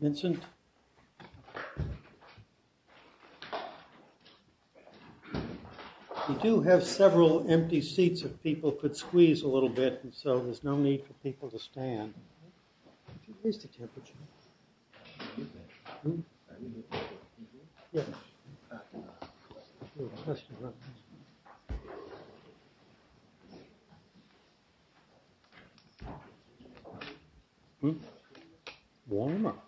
Vincent, we do have several empty seats if people could squeeze a little bit. And so there's no need for people to stand. What's the temperature? Warm up.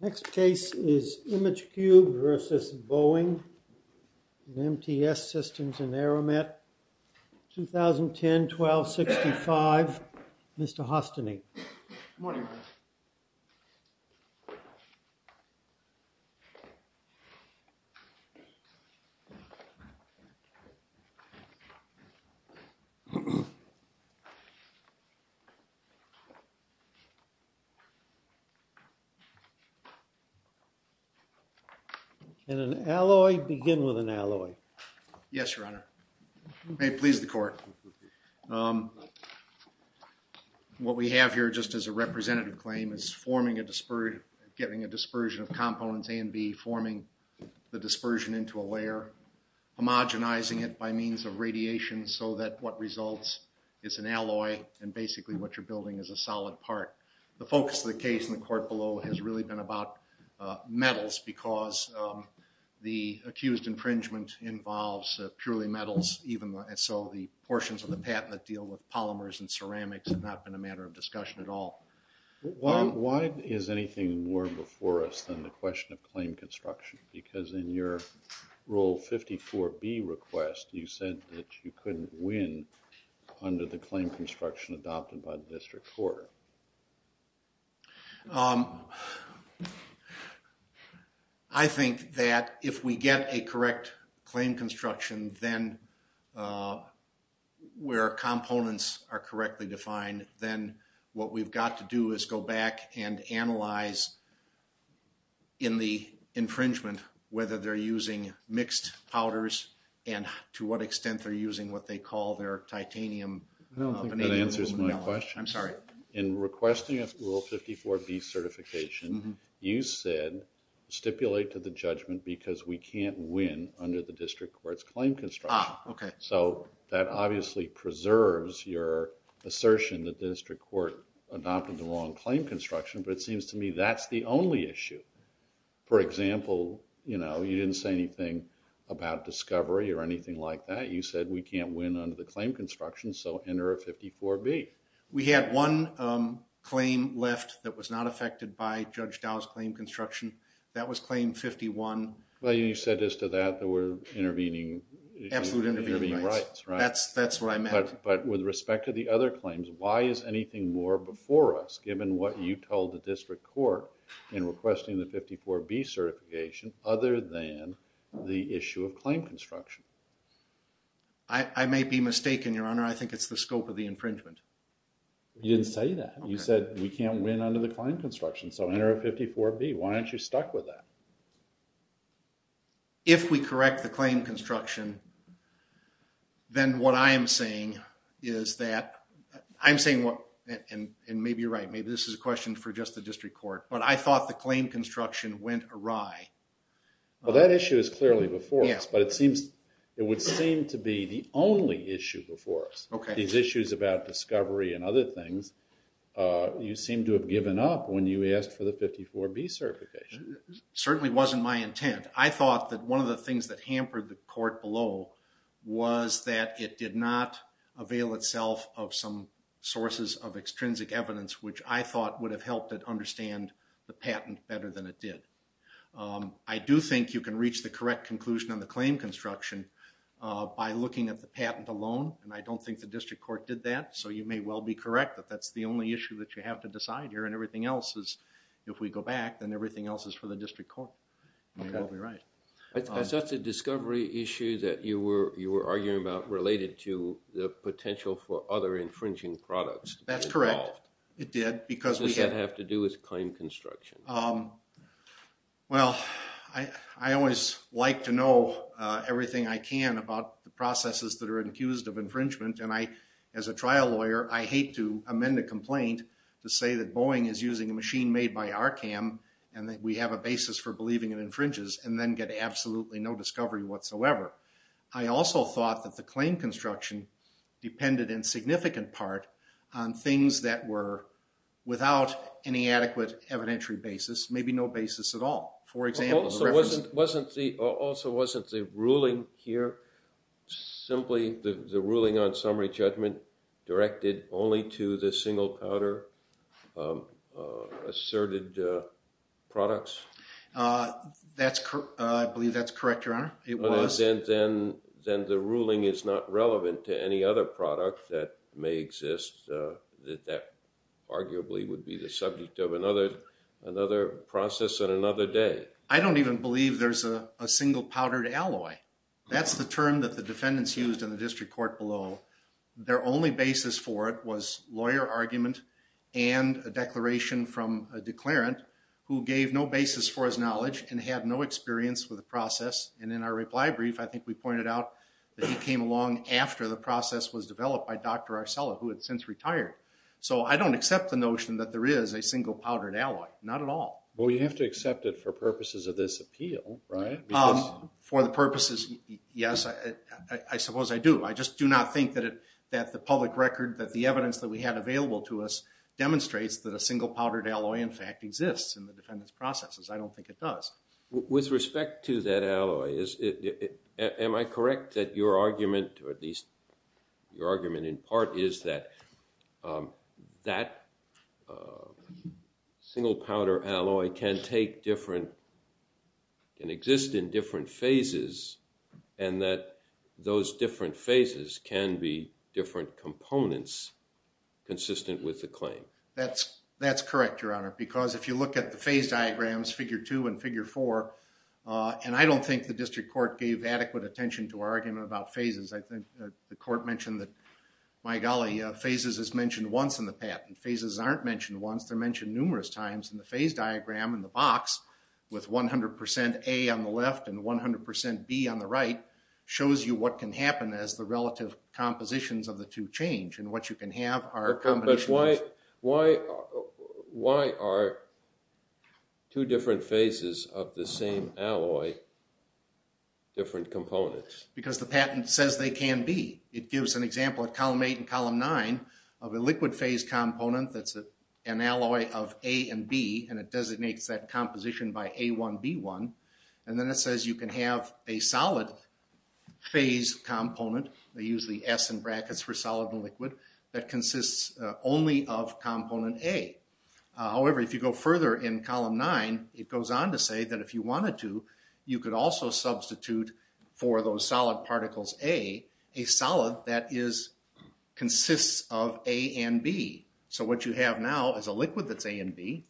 Next case is IMAGECUBE v. BOEING, MTS Systems and Aramat, 2010-12-65. Mr. Hostany. Good morning. Can an alloy begin with an alloy? Yes, your honor. May it please the court. What we have here just as a representative claim is forming a dispersion of components A and B, forming the dispersion into a layer, homogenizing it by means of radiation so that what results is an alloy. And basically what you're building is a solid part. The focus of the case in the court below has really been about metals because the accused infringement involves purely metals. And so the portions of the patent that deal with polymers and ceramics have not been a matter of discussion at all. Why is anything more before us than the question of claim construction? Because in your rule 54B request, you said that you couldn't win under the claim construction adopted by the district court. I think that if we get a correct claim construction, then where components are correctly defined, then what we've got to do is go back and analyze in the infringement whether they're using mixed powders and to what extent they're using what they call their titanium. I don't think that answers my question. I'm sorry. In requesting a rule 54B certification, you said stipulate to the judgment because we can't win under the district court's claim construction. Ah, okay. So that obviously preserves your assertion that the district court adopted the wrong claim construction, but it seems to me that's the only issue. For example, you didn't say anything about discovery or anything like that. You said we can't win under the claim construction, so enter a 54B. We had one claim left that was not affected by Judge Dow's claim construction. That was claim 51. Well, you said as to that that we're intervening. Absolute intervening rights. Right. That's what I meant. But with respect to the other claims, why is anything more before us given what you told the district court in requesting the 54B certification other than the issue of claim construction? I may be mistaken, Your Honor. I think it's the scope of the infringement. You didn't say that. You said we can't win under the claim construction, so enter a 54B. Why aren't you stuck with that? If we correct the claim construction, then what I am saying is that I'm saying, and maybe you're right, maybe this is a question for just the district court, but I thought the claim construction went awry. Well, that issue is clearly before us, but it would seem to be the only issue before us. Okay. These issues about discovery and other things, you seem to have given up when you asked for the 54B certification. It certainly wasn't my intent. I thought that one of the things that hampered the court below was that it did not avail itself of some sources of extrinsic evidence, which I thought would have helped it understand the patent better than it did. I do think you can reach the correct conclusion on the claim construction by looking at the patent alone, and I don't think the district court did that. So, you may well be correct that that's the only issue that you have to decide here, and everything else is, if we go back, then everything else is for the district court. Okay. You may well be right. Is that the discovery issue that you were arguing about related to the potential for other infringing products? That's correct. It did? What does that have to do with claim construction? Well, I always like to know everything I can about the processes that are accused of infringement, and I, as a trial lawyer, I hate to amend a complaint to say that Boeing is using a machine made by Arcam, and that we have a basis for believing it infringes, and then get absolutely no discovery whatsoever. I also thought that the claim construction depended in significant part on things that were without any adequate evidentiary basis, maybe no basis at all. Also, wasn't the ruling here simply the ruling on summary judgment directed only to the single powder asserted products? I believe that's correct, Your Honor. It was. Then the ruling is not relevant to any other product that may exist, that arguably would be the subject of another process on another day. I don't even believe there's a single powdered alloy. That's the term that the defendants used in the district court below. Their only basis for it was lawyer argument and a declaration from a declarant who gave no basis for his knowledge and had no experience with the process. And in our reply brief, I think we pointed out that he came along after the process was developed by Dr. Arcella, who had since retired. So, I don't accept the notion that there is a single powdered alloy. Not at all. Well, you have to accept it for purposes of this appeal, right? For the purposes, yes, I suppose I do. I just do not think that the public record, that the evidence that we had available to us demonstrates that a single powdered alloy, in fact, exists in the defendant's processes. I don't think it does. With respect to that alloy, am I correct that your argument, or at least your argument in part, is that that single powdered alloy can exist in different phases and that those different phases can be different components consistent with the claim? That's correct, Your Honor, because if you look at the phase diagrams, figure 2 and figure 4, and I don't think the district court gave adequate attention to argument about phases. I think the court mentioned that, my golly, phases is mentioned once in the patent. Phases aren't mentioned once, they're mentioned numerous times. And the phase diagram in the box, with 100% A on the left and 100% B on the right, shows you what can happen as the relative compositions of the two change. And what you can have are combinations. But why are two different phases of the same alloy different components? Because the patent says they can be. It gives an example at column 8 and column 9 of a liquid phase component that's an alloy of A and B, and it designates that composition by A1B1. And then it says you can have a solid phase component, they use the S in brackets for solid and liquid, that consists only of component A. However, if you go further in column 9, it goes on to say that if you wanted to, you could also substitute for those solid particles A, a solid that consists of A and B. So what you have now is a liquid that's A and B,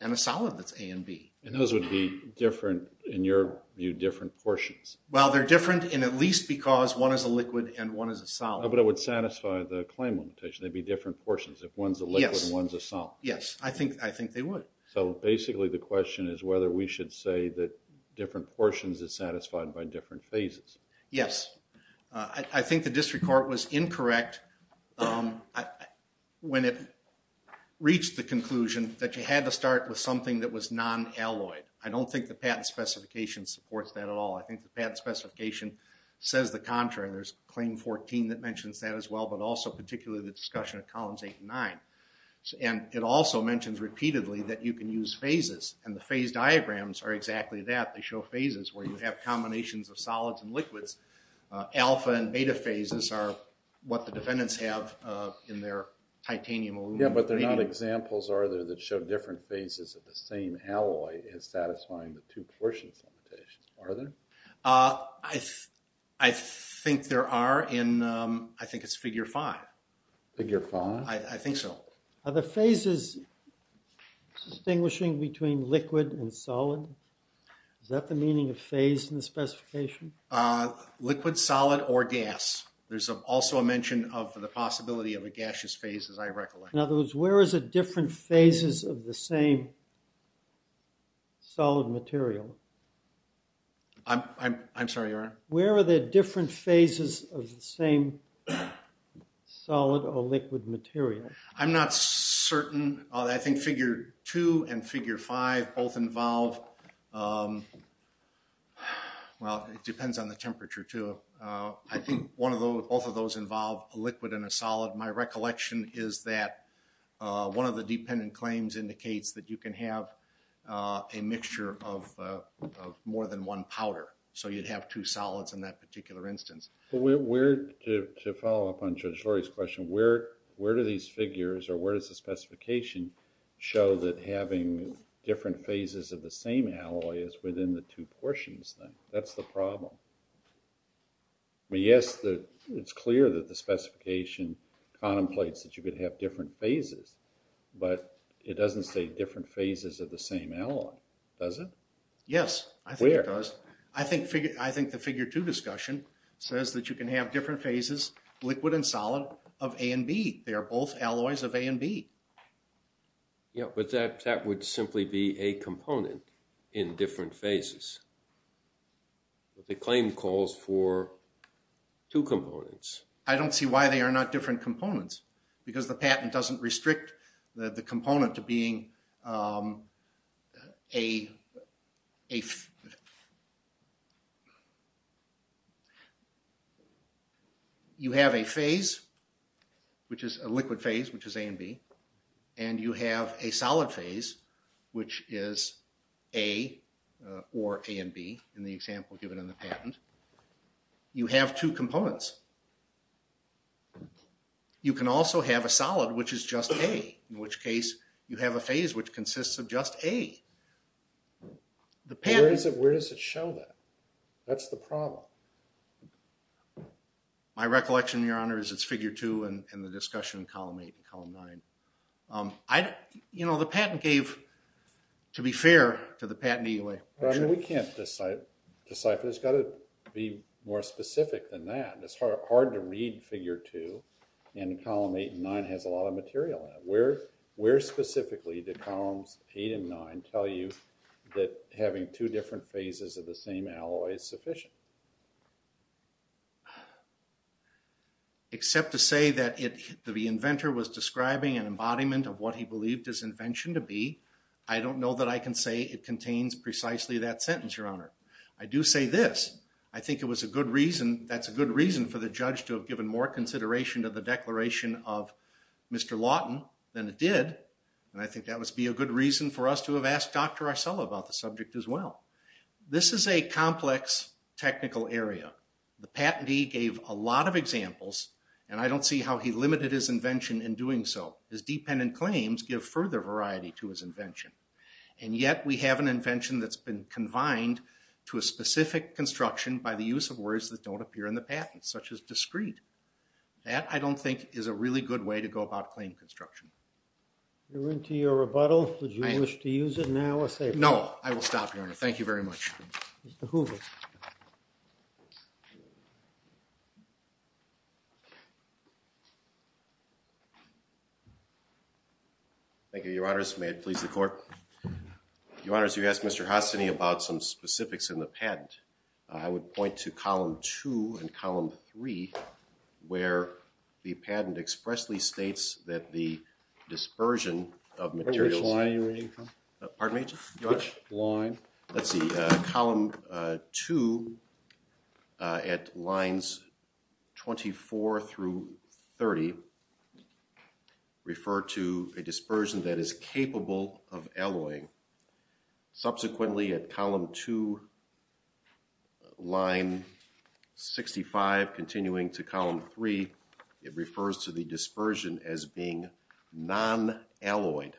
and a solid that's A and B. And those would be different, in your view, different portions. Well, they're different in at least because one is a liquid and one is a solid. But it would satisfy the claim limitation. They'd be different portions if one's a liquid and one's a solid. Yes, I think they would. So basically the question is whether we should say that different portions is satisfied by different phases. Yes. I think the district court was incorrect when it reached the conclusion that you had to start with something that was non-alloyed. I don't think the patent specification supports that at all. I think the patent specification says the contrary. There's claim 14 that mentions that as well, but also particularly the discussion of columns 8 and 9. And it also mentions repeatedly that you can use phases, and the phase diagrams are exactly that. They show phases where you have combinations of solids and liquids. Alpha and beta phases are what the defendants have in their titanium aluminum. Yes, but they're not examples, are they, that show different phases of the same alloy is satisfying the two portions limitations. Are there? I think there are, and I think it's figure 5. Figure 5? I think so. Are the phases distinguishing between liquid and solid? Is that the meaning of phase in the specification? Liquid, solid, or gas. There's also a mention of the possibility of a gaseous phase, as I recollect. In other words, where is it different phases of the same solid material? I'm sorry, your honor? Where are the different phases of the same solid or liquid material? I'm not certain. I think figure 2 and figure 5 both involve, well, it depends on the temperature too. I think both of those involve a liquid and a solid. My recollection is that one of the dependent claims indicates that you can have a mixture of more than one powder. So you'd have two solids in that particular instance. To follow up on Judge Lurie's question, where do these figures or where does the specification show that having different phases of the same alloy is within the two portions then? That's the problem. Yes, it's clear that the specification contemplates that you could have different phases, but it doesn't say different phases of the same alloy, does it? Yes, I think it does. Where? I think the figure 2 discussion says that you can have different phases, liquid and solid, of A and B. They are both alloys of A and B. Yeah, but that would simply be a component in different phases. The claim calls for two components. I don't see why they are not different components, because the patent doesn't restrict the component to being a... ...in the example given in the patent. You have two components. You can also have a solid which is just A, in which case you have a phase which consists of just A. Where does it show that? That's the problem. My recollection, Your Honor, is it's figure 2 in the discussion column 8 and column 9. The patent gave, to be fair, to the patent EOA. Your Honor, we can't decipher. It's got to be more specific than that. It's hard to read figure 2, and column 8 and 9 has a lot of material in it. Where specifically did columns 8 and 9 tell you that having two different phases of the same alloy is sufficient? Except to say that the inventor was describing an embodiment of what he believed his invention to be. I don't know that I can say it contains precisely that sentence, Your Honor. I do say this. I think it was a good reason. That's a good reason for the judge to have given more consideration to the declaration of Mr. Lawton than it did. And I think that must be a good reason for us to have asked Dr. Arcella about the subject as well. This is a complex technical area. The patentee gave a lot of examples, and I don't see how he limited his invention in doing so. His dependent claims give further variety to his invention. And yet, we have an invention that's been confined to a specific construction by the use of words that don't appear in the patent, such as discreet. That, I don't think, is a really good way to go about claim construction. We're into your rebuttal. Would you wish to use it now? No, I will stop, Your Honor. Thank you very much. Mr. Hoover. Thank you, Your Honors. May it please the Court? Your Honors, you asked Mr. Hassany about some specifics in the patent. I would point to Column 2 and Column 3, where the patent expressly states that the dispersion of materials… Which line are you reading from? Pardon me, Judge? Line. Let's see. Column 2 at lines 24 through 30 refer to a dispersion that is capable of alloying. Subsequently, at Column 2, line 65, continuing to Column 3, it refers to the dispersion as being non-alloyed.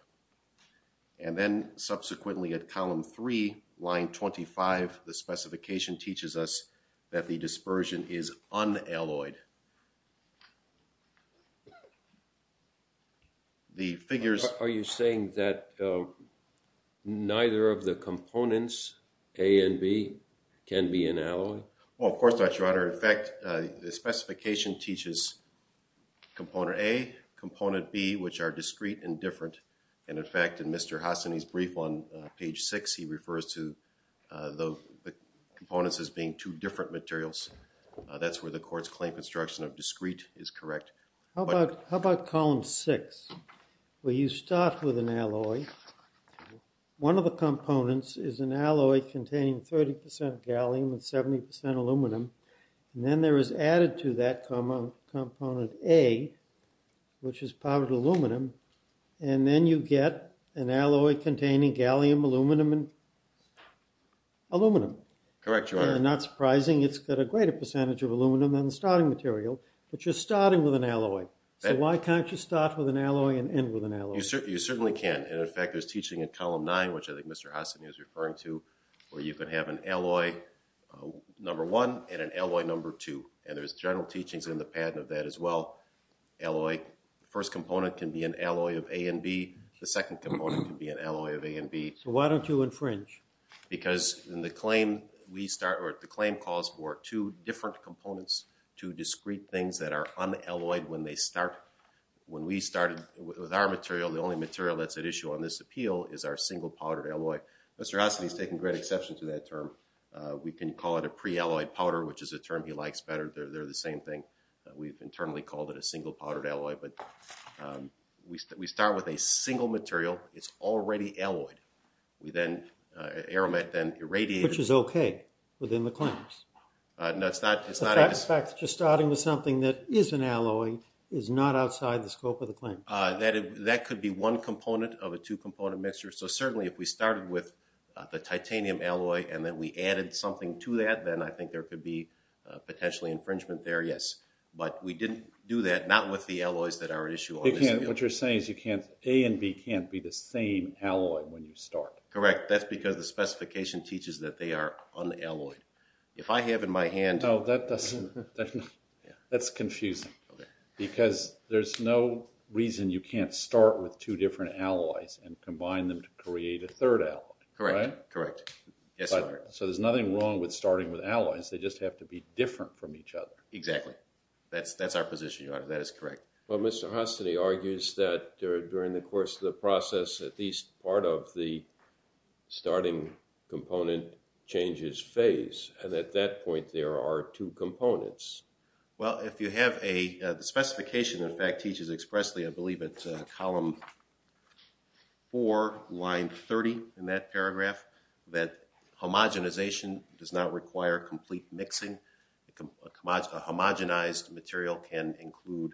And then, subsequently, at Column 3, line 25, the specification teaches us that the dispersion is unalloyed. The figures… Are you saying that neither of the components, A and B, can be an alloy? No, Your Honor. In fact, the specification teaches Component A, Component B, which are discrete and different. And, in fact, in Mr. Hassany's brief on page 6, he refers to the components as being two different materials. That's where the Court's claim construction of discrete is correct. How about Column 6, where you start with an alloy? One of the components is an alloy containing 30% gallium and 70% aluminum. And then there is added to that component, A, which is powdered aluminum. And then you get an alloy containing gallium, aluminum, and aluminum. Correct, Your Honor. And not surprising, it's got a greater percentage of aluminum than the starting material. But you're starting with an alloy. So why can't you start with an alloy and end with an alloy? You certainly can. And, in fact, there's teaching in Column 9, which I think Mr. Hassany is referring to, where you can have an alloy number 1 and an alloy number 2. And there's general teachings in the patent of that as well. Alloy, first component can be an alloy of A and B. The second component can be an alloy of A and B. So why don't you infringe? Because in the claim, we start, or the claim calls for two different components, two discrete things that are unalloyed when they start. When we started with our material, the only material that's at issue on this appeal is our single-powdered alloy. Mr. Hassany has taken great exception to that term. We can call it a pre-alloyed powder, which is a term he likes better. They're the same thing. We've internally called it a single-powdered alloy. But we start with a single material. It's already alloyed. We then irradiate it. Which is okay within the claims. No, it's not. In fact, just starting with something that is an alloy is not outside the scope of the claim. That could be one component of a two-component mixture. So certainly if we started with the titanium alloy and then we added something to that, then I think there could be potentially infringement there, yes. But we didn't do that, not with the alloys that are at issue on this appeal. What you're saying is A and B can't be the same alloy when you start. Correct. That's because the specification teaches that they are unalloyed. If I have in my hand— No, that doesn't—that's confusing. Okay. Because there's no reason you can't start with two different alloys and combine them to create a third alloy. Correct. Right? Correct. So there's nothing wrong with starting with alloys. They just have to be different from each other. Exactly. That's our position, Your Honor. That is correct. Well, Mr. Hostany argues that during the course of the process, at least part of the starting component changes phase, and at that point there are two components. Well, if you have a—the specification, in fact, teaches expressly, I believe it's column 4, line 30 in that paragraph, that homogenization does not require complete mixing. A homogenized material can include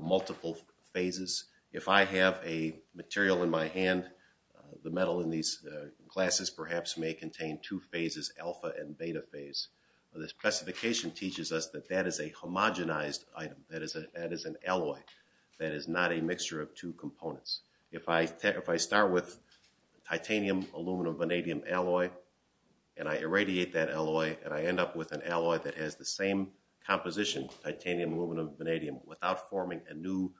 multiple phases. If I have a material in my hand, the metal in these glasses perhaps may contain two phases, alpha and beta phase. The specification teaches us that that is a homogenized item. That is an alloy. That is not a mixture of two components. If I start with titanium, aluminum, vanadium alloy, and I irradiate that alloy, and I end up with an alloy that has the same composition, titanium, aluminum, vanadium, without forming a new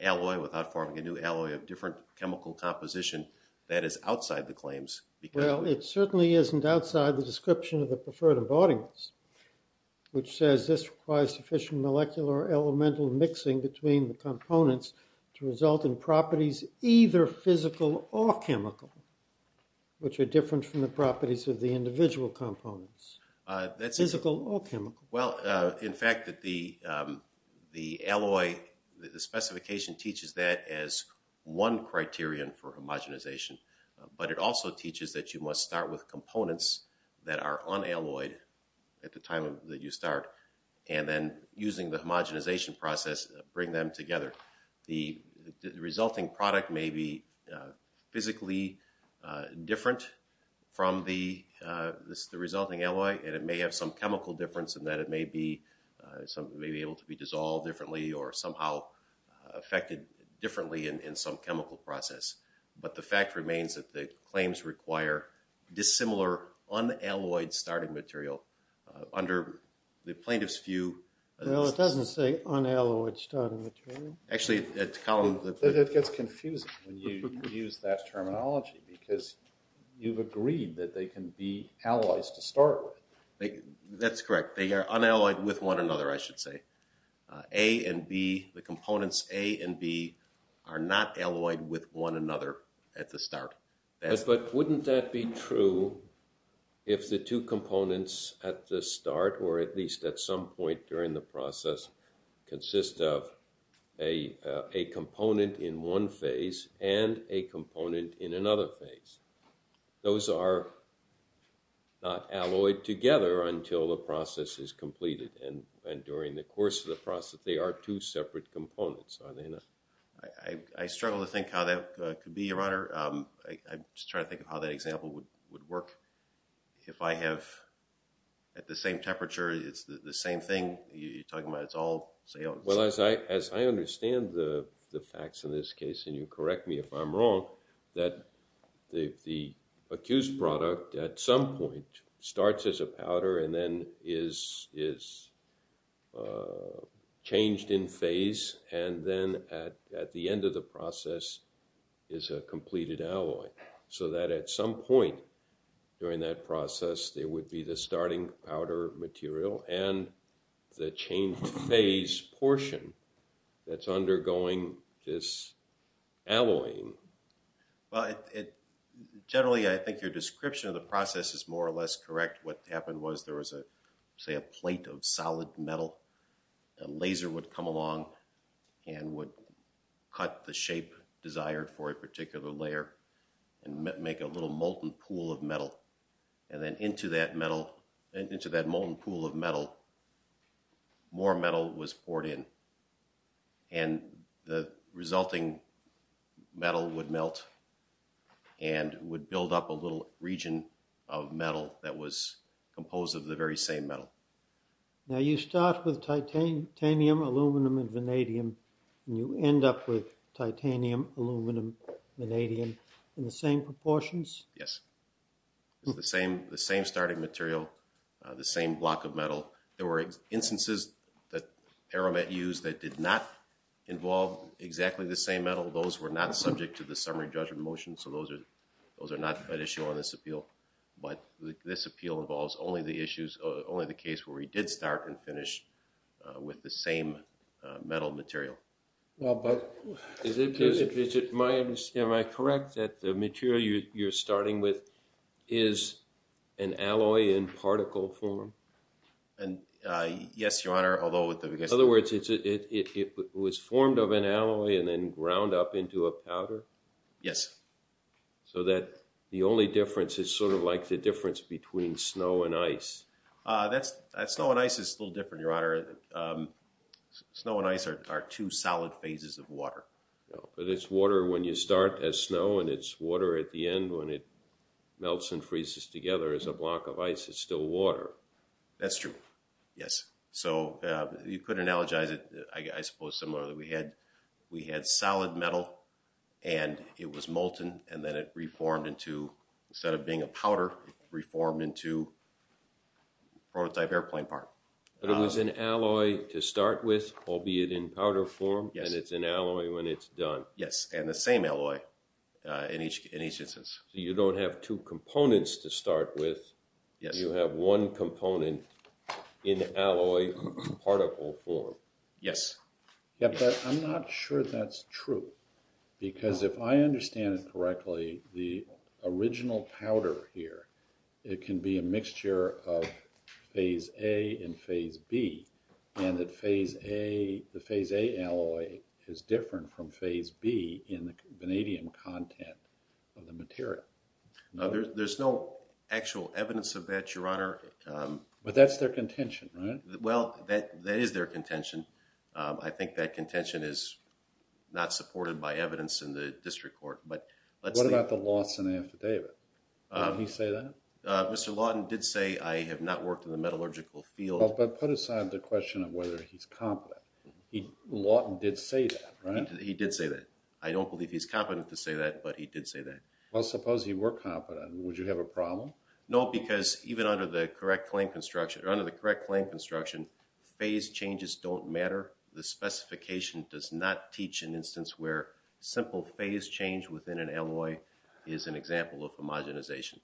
alloy, without forming a new alloy of different chemical composition, that is outside the claims. Well, it certainly isn't outside the description of the preferred embodiments, which says this requires sufficient molecular elemental mixing between the components to result in properties either physical or chemical, which are different from the properties of the individual components, physical or chemical. Well, in fact, the alloy, the specification teaches that as one criterion for homogenization, but it also teaches that you must start with components that are unalloyed at the time that you start, and then using the homogenization process, bring them together. The resulting product may be physically different from the resulting alloy, and it may have some chemical difference in that it may be able to be dissolved differently or somehow affected differently in some chemical process. But the fact remains that the claims require dissimilar unalloyed starting material under the plaintiff's view. Well, it doesn't say unalloyed starting material. Actually, it's a column that... It gets confusing when you use that terminology because you've agreed that they can be alloys to start with. That's correct. They are unalloyed with one another, I should say. A and B, the components A and B are not alloyed with one another at the start. But wouldn't that be true if the two components at the start, or at least at some point during the process, consist of a component in one phase and a component in another phase? Those are not alloyed together until the process is completed, and during the course of the process they are two separate components, are they not? I struggle to think how that could be, Your Honor. I'm just trying to think of how that example would work. If I have at the same temperature the same thing, you're talking about it's all... Well, as I understand the facts in this case, and you correct me if I'm wrong, that the accused product at some point starts as a powder and then is changed in phase, and then at the end of the process is a completed alloy. So that at some point during that process there would be the starting powder material and the changed phase portion that's undergoing this alloying. Well, generally I think your description of the process is more or less correct. What happened was there was, say, a plate of solid metal. A laser would come along and would cut the shape desired for a particular layer and make a little molten pool of metal, and then into that molten pool of metal more metal was poured in, and the resulting metal would melt and would build up a little region of metal that was composed of the very same metal. Now, you start with titanium, aluminum, and vanadium, and you end up with titanium, aluminum, vanadium in the same proportions? Yes. It's the same starting material, the same block of metal. There were instances that Aramet used that did not involve exactly the same metal. Those were not subject to the summary judgment motion, so those are not an issue on this appeal, but this appeal involves only the issues, only the case where he did start and finish with the same metal material. Am I correct that the material you're starting with is an alloy in particle form? Yes, Your Honor. In other words, it was formed of an alloy and then ground up into a powder? Yes. So that the only difference is sort of like the difference between snow and ice? Snow and ice is still different, Your Honor. Snow and ice are two solid phases of water. But it's water when you start as snow, and it's water at the end when it melts and freezes together as a block of ice. It's still water. That's true, yes. So you could analogize it, I suppose, similar that we had solid metal and it was molten, and then it reformed into, instead of being a powder, it reformed into prototype airplane part. But it was an alloy to start with, albeit in powder form, and it's an alloy when it's done? Yes, and the same alloy in each instance. So you don't have two components to start with. Yes. You have one component in alloy particle form. Yes. Yeah, but I'm not sure that's true, because if I understand it correctly, the original powder here, it can be a mixture of phase A and phase B, and that phase A, the phase A alloy is different from phase B in the vanadium content of the material. No, there's no actual evidence of that, Your Honor. But that's their contention, right? Well, that is their contention. I think that contention is not supported by evidence in the district court. What about the Lawton affidavit? Did he say that? Mr. Lawton did say, I have not worked in the metallurgical field. But put aside the question of whether he's competent. Lawton did say that, right? He did say that. I don't believe he's competent to say that, but he did say that. Well, suppose he were competent. Would you have a problem? No, because even under the correct claim construction, phase changes don't matter. The specification does not teach an instance where simple phase change within an alloy is an example of homogenization.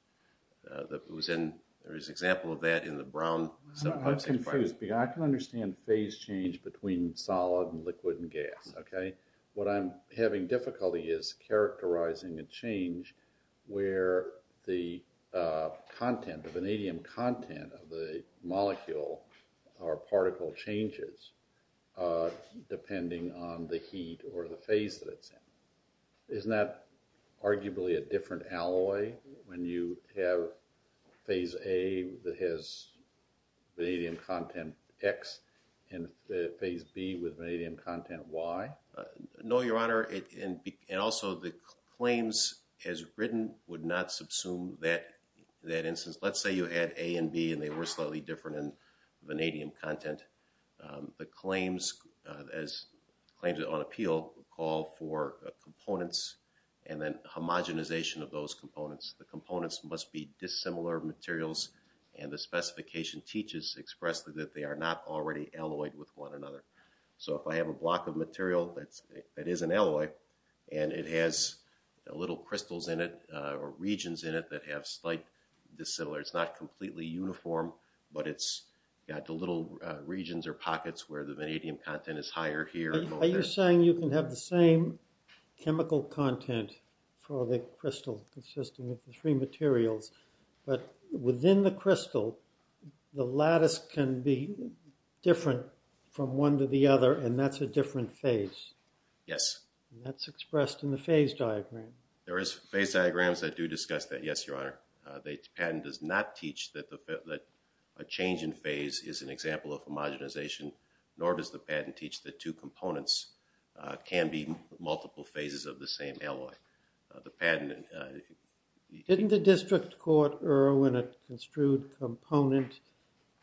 There is an example of that in the Brown subclass. I'm confused. I can understand phase change between solid and liquid and gas, okay? What I'm having difficulty is characterizing a change where the content, the vanadium content of the molecule or particle changes depending on the heat or the phase that it's in. Isn't that arguably a different alloy when you have phase A that has vanadium content X and phase B with vanadium content Y? No, Your Honor. And also the claims as written would not subsume that instance. Let's say you had A and B and they were slightly different in vanadium content. The claims on appeal call for components and then homogenization of those components. The components must be dissimilar materials, and the specification teaches expressly that they are not already alloyed with one another. So if I have a block of material that is an alloy and it has little crystals in it or regions in it that have slight dissimilar, it's not completely uniform, but it's got the little regions or pockets where the vanadium content is higher here. Are you saying you can have the same chemical content for the crystal consisting of the three materials, but within the crystal, the lattice can be different from one to the other, and that's a different phase? Yes. That's expressed in the phase diagram. There is phase diagrams that do discuss that, yes, Your Honor. The patent does not teach that a change in phase is an example of homogenization, nor does the patent teach that two components can be multiple phases of the same alloy. Didn't the district court err when it construed component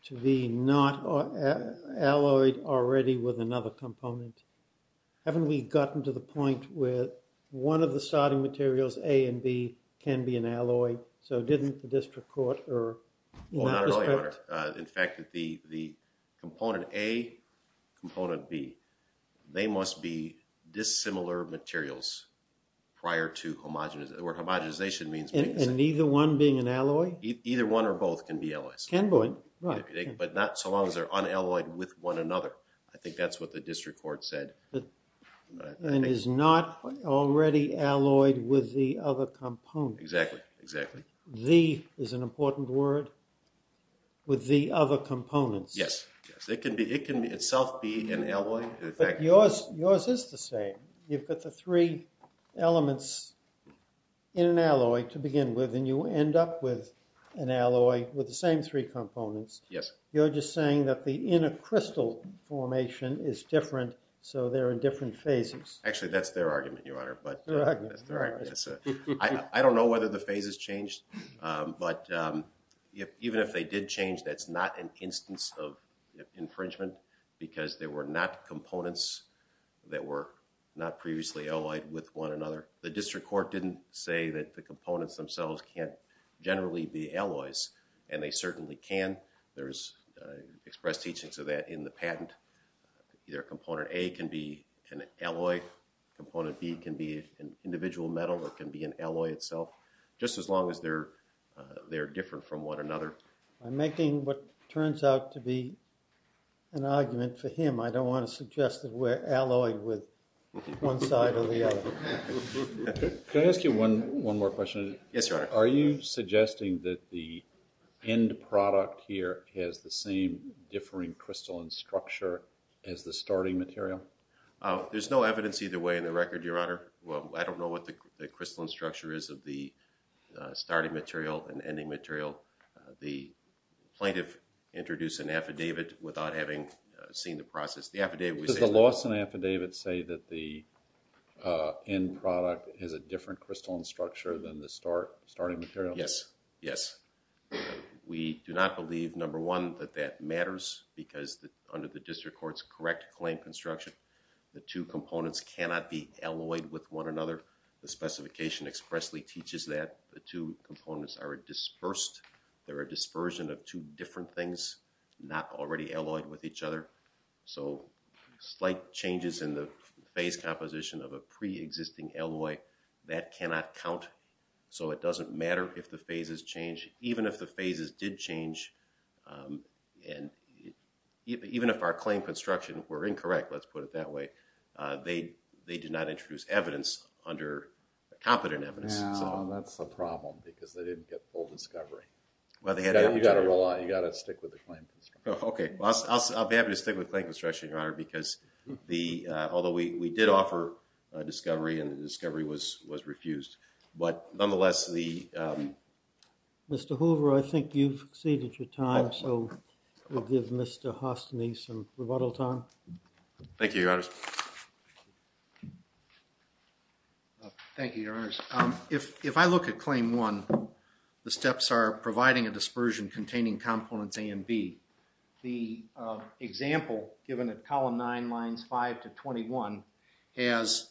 to be not alloyed already with another component? Haven't we gotten to the point where one of the starting materials, A and B, can be an alloy? So didn't the district court err in that respect? Well, not really, Your Honor. In fact, the component A, component B, they must be dissimilar materials prior to homogenization, where homogenization means being the same. And neither one being an alloy? Either one or both can be alloys. Can be, right. But not so long as they're unalloyed with one another. I think that's what the district court said. And is not already alloyed with the other component. Exactly. Exactly. The is an important word, with the other components. Yes. It can itself be an alloy. But yours is the same. You've got the three elements in an alloy to begin with, and you end up with an alloy with the same three components. Yes. You're just saying that the inner crystal formation is different, so they're in different phases. Actually, that's their argument, Your Honor. Their argument. I don't know whether the phases changed. But even if they did change, that's not an instance of infringement, because they were not components that were not previously alloyed with one another. The district court didn't say that the components themselves can't generally be alloys. And they certainly can. There is express teaching to that in the patent. Either component A can be an alloy, component B can be an individual metal that can be an alloy itself, just as long as they're different from one another. I'm making what turns out to be an argument for him. I don't want to suggest that we're alloyed with one side or the other. Can I ask you one more question? Yes, Your Honor. Are you suggesting that the end product here has the same differing crystalline structure as the starting material? There's no evidence either way in the record, Your Honor. I don't know what the crystalline structure is of the starting material and ending material. The plaintiff introduced an affidavit without having seen the process. Does the Lawson affidavit say that the end product has a different starting material? Yes. Yes. We do not believe, number one, that that matters, because under the district court's correct claim construction, the two components cannot be alloyed with one another. The specification expressly teaches that the two components are dispersed. They're a dispersion of two different things, not already alloyed with each other. So slight changes in the phase composition of a preexisting alloy, that cannot count. So it doesn't matter if the phases change. Even if the phases did change, even if our claim construction were incorrect, let's put it that way, they did not introduce evidence under competent evidence. That's the problem, because they didn't get full discovery. You've got to stick with the claim construction. Okay. I'll be happy to stick with claim construction, Your Honor, because although we did offer discovery and the discovery was refused, but nonetheless, the- Mr. Hoover, I think you've exceeded your time, so we'll give Mr. Hostany some rebuttal time. Thank you, Your Honors. Thank you, Your Honors. If I look at claim one, the steps are providing a dispersion containing components A and B. The example given at column nine, lines five to 21, has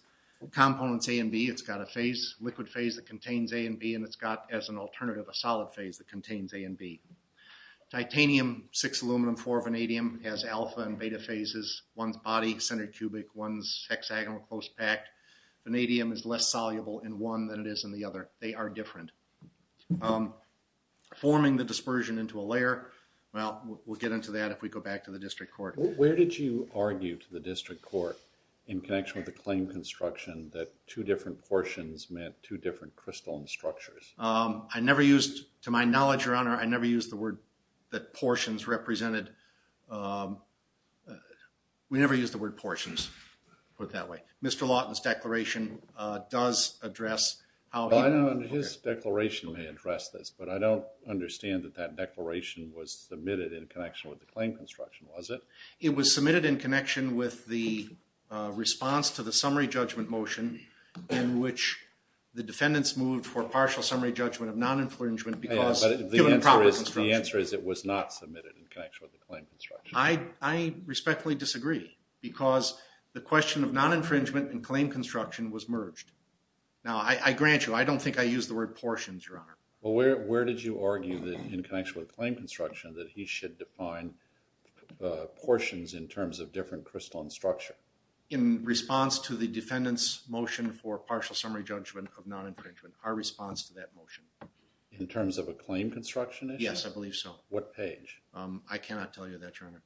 components A and B. It's got a phase, liquid phase that contains A and B, and it's got, as an alternative, a solid phase that contains A and B. Titanium, six aluminum, four vanadium has alpha and beta phases. One's body, centered cubic. One's hexagonal, close packed. Vanadium is less soluble in one than it is in the other. They are different. Forming the dispersion into a layer, well, we'll get into that if we go back to the district court. Where did you argue to the district court, in connection with the claim construction, that two different portions meant two different crystalline structures? I never used, to my knowledge, Your Honor, I never used the word that portions represented, we never used the word portions, put it that way. Mr. Lawton's declaration does address how- His declaration may address this, but I don't understand that that declaration was submitted in connection with the claim construction, was it? It was submitted in connection with the response to the summary judgment motion, in which the defendants moved for partial summary judgment of non-infringement because- The answer is it was not submitted in connection with the claim construction. I respectfully disagree, because the question of non-infringement and claim construction was merged. Now, I grant you, I don't think I used the word portions, Your Honor. Well, where did you argue, in connection with claim construction, that he should define portions in terms of different crystalline structure? In response to the defendant's motion for partial summary judgment of non-infringement, our response to that motion. In terms of a claim construction issue? Yes, I believe so. What page? I cannot tell you that, Your Honor.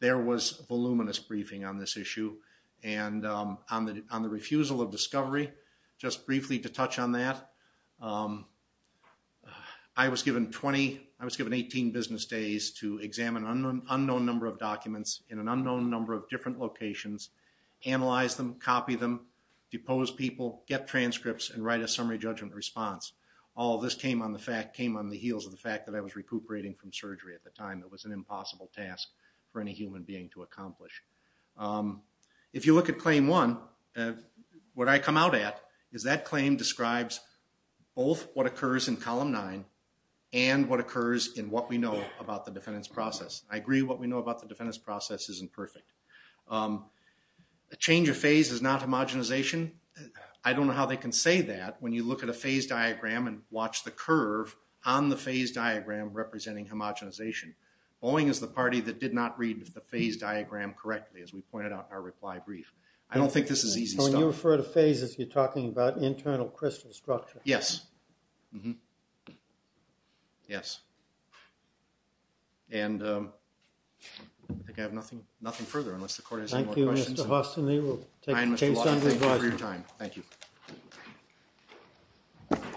There was voluminous briefing on this issue, and on the refusal of discovery, just briefly to touch on that, I was given 20, I was given 18 business days to examine an unknown number of documents in an unknown number of different locations, analyze them, copy them, depose people, get transcripts, and write a summary judgment response. All of this came on the heels of the fact that I was recuperating from surgery at the time. It was an impossible task for any human being to accomplish. If you look at claim one, what I come out at is that claim describes both what occurs in column nine and what occurs in what we know about the defendant's process. I agree what we know about the defendant's process isn't perfect. A change of phase is not homogenization. I don't know how they can say that when you look at a phase diagram and watch the curve on the phase diagram representing homogenization. Boeing is the party that did not read the phase diagram correctly, as we pointed out in our reply brief. I don't think this is easy stuff. So when you refer to phases, you're talking about internal crystal structure. Yes. Yes. And I think I have nothing further unless the court has any more questions. Thank you, Mr. Hauston. We'll take some of your time. Thank you.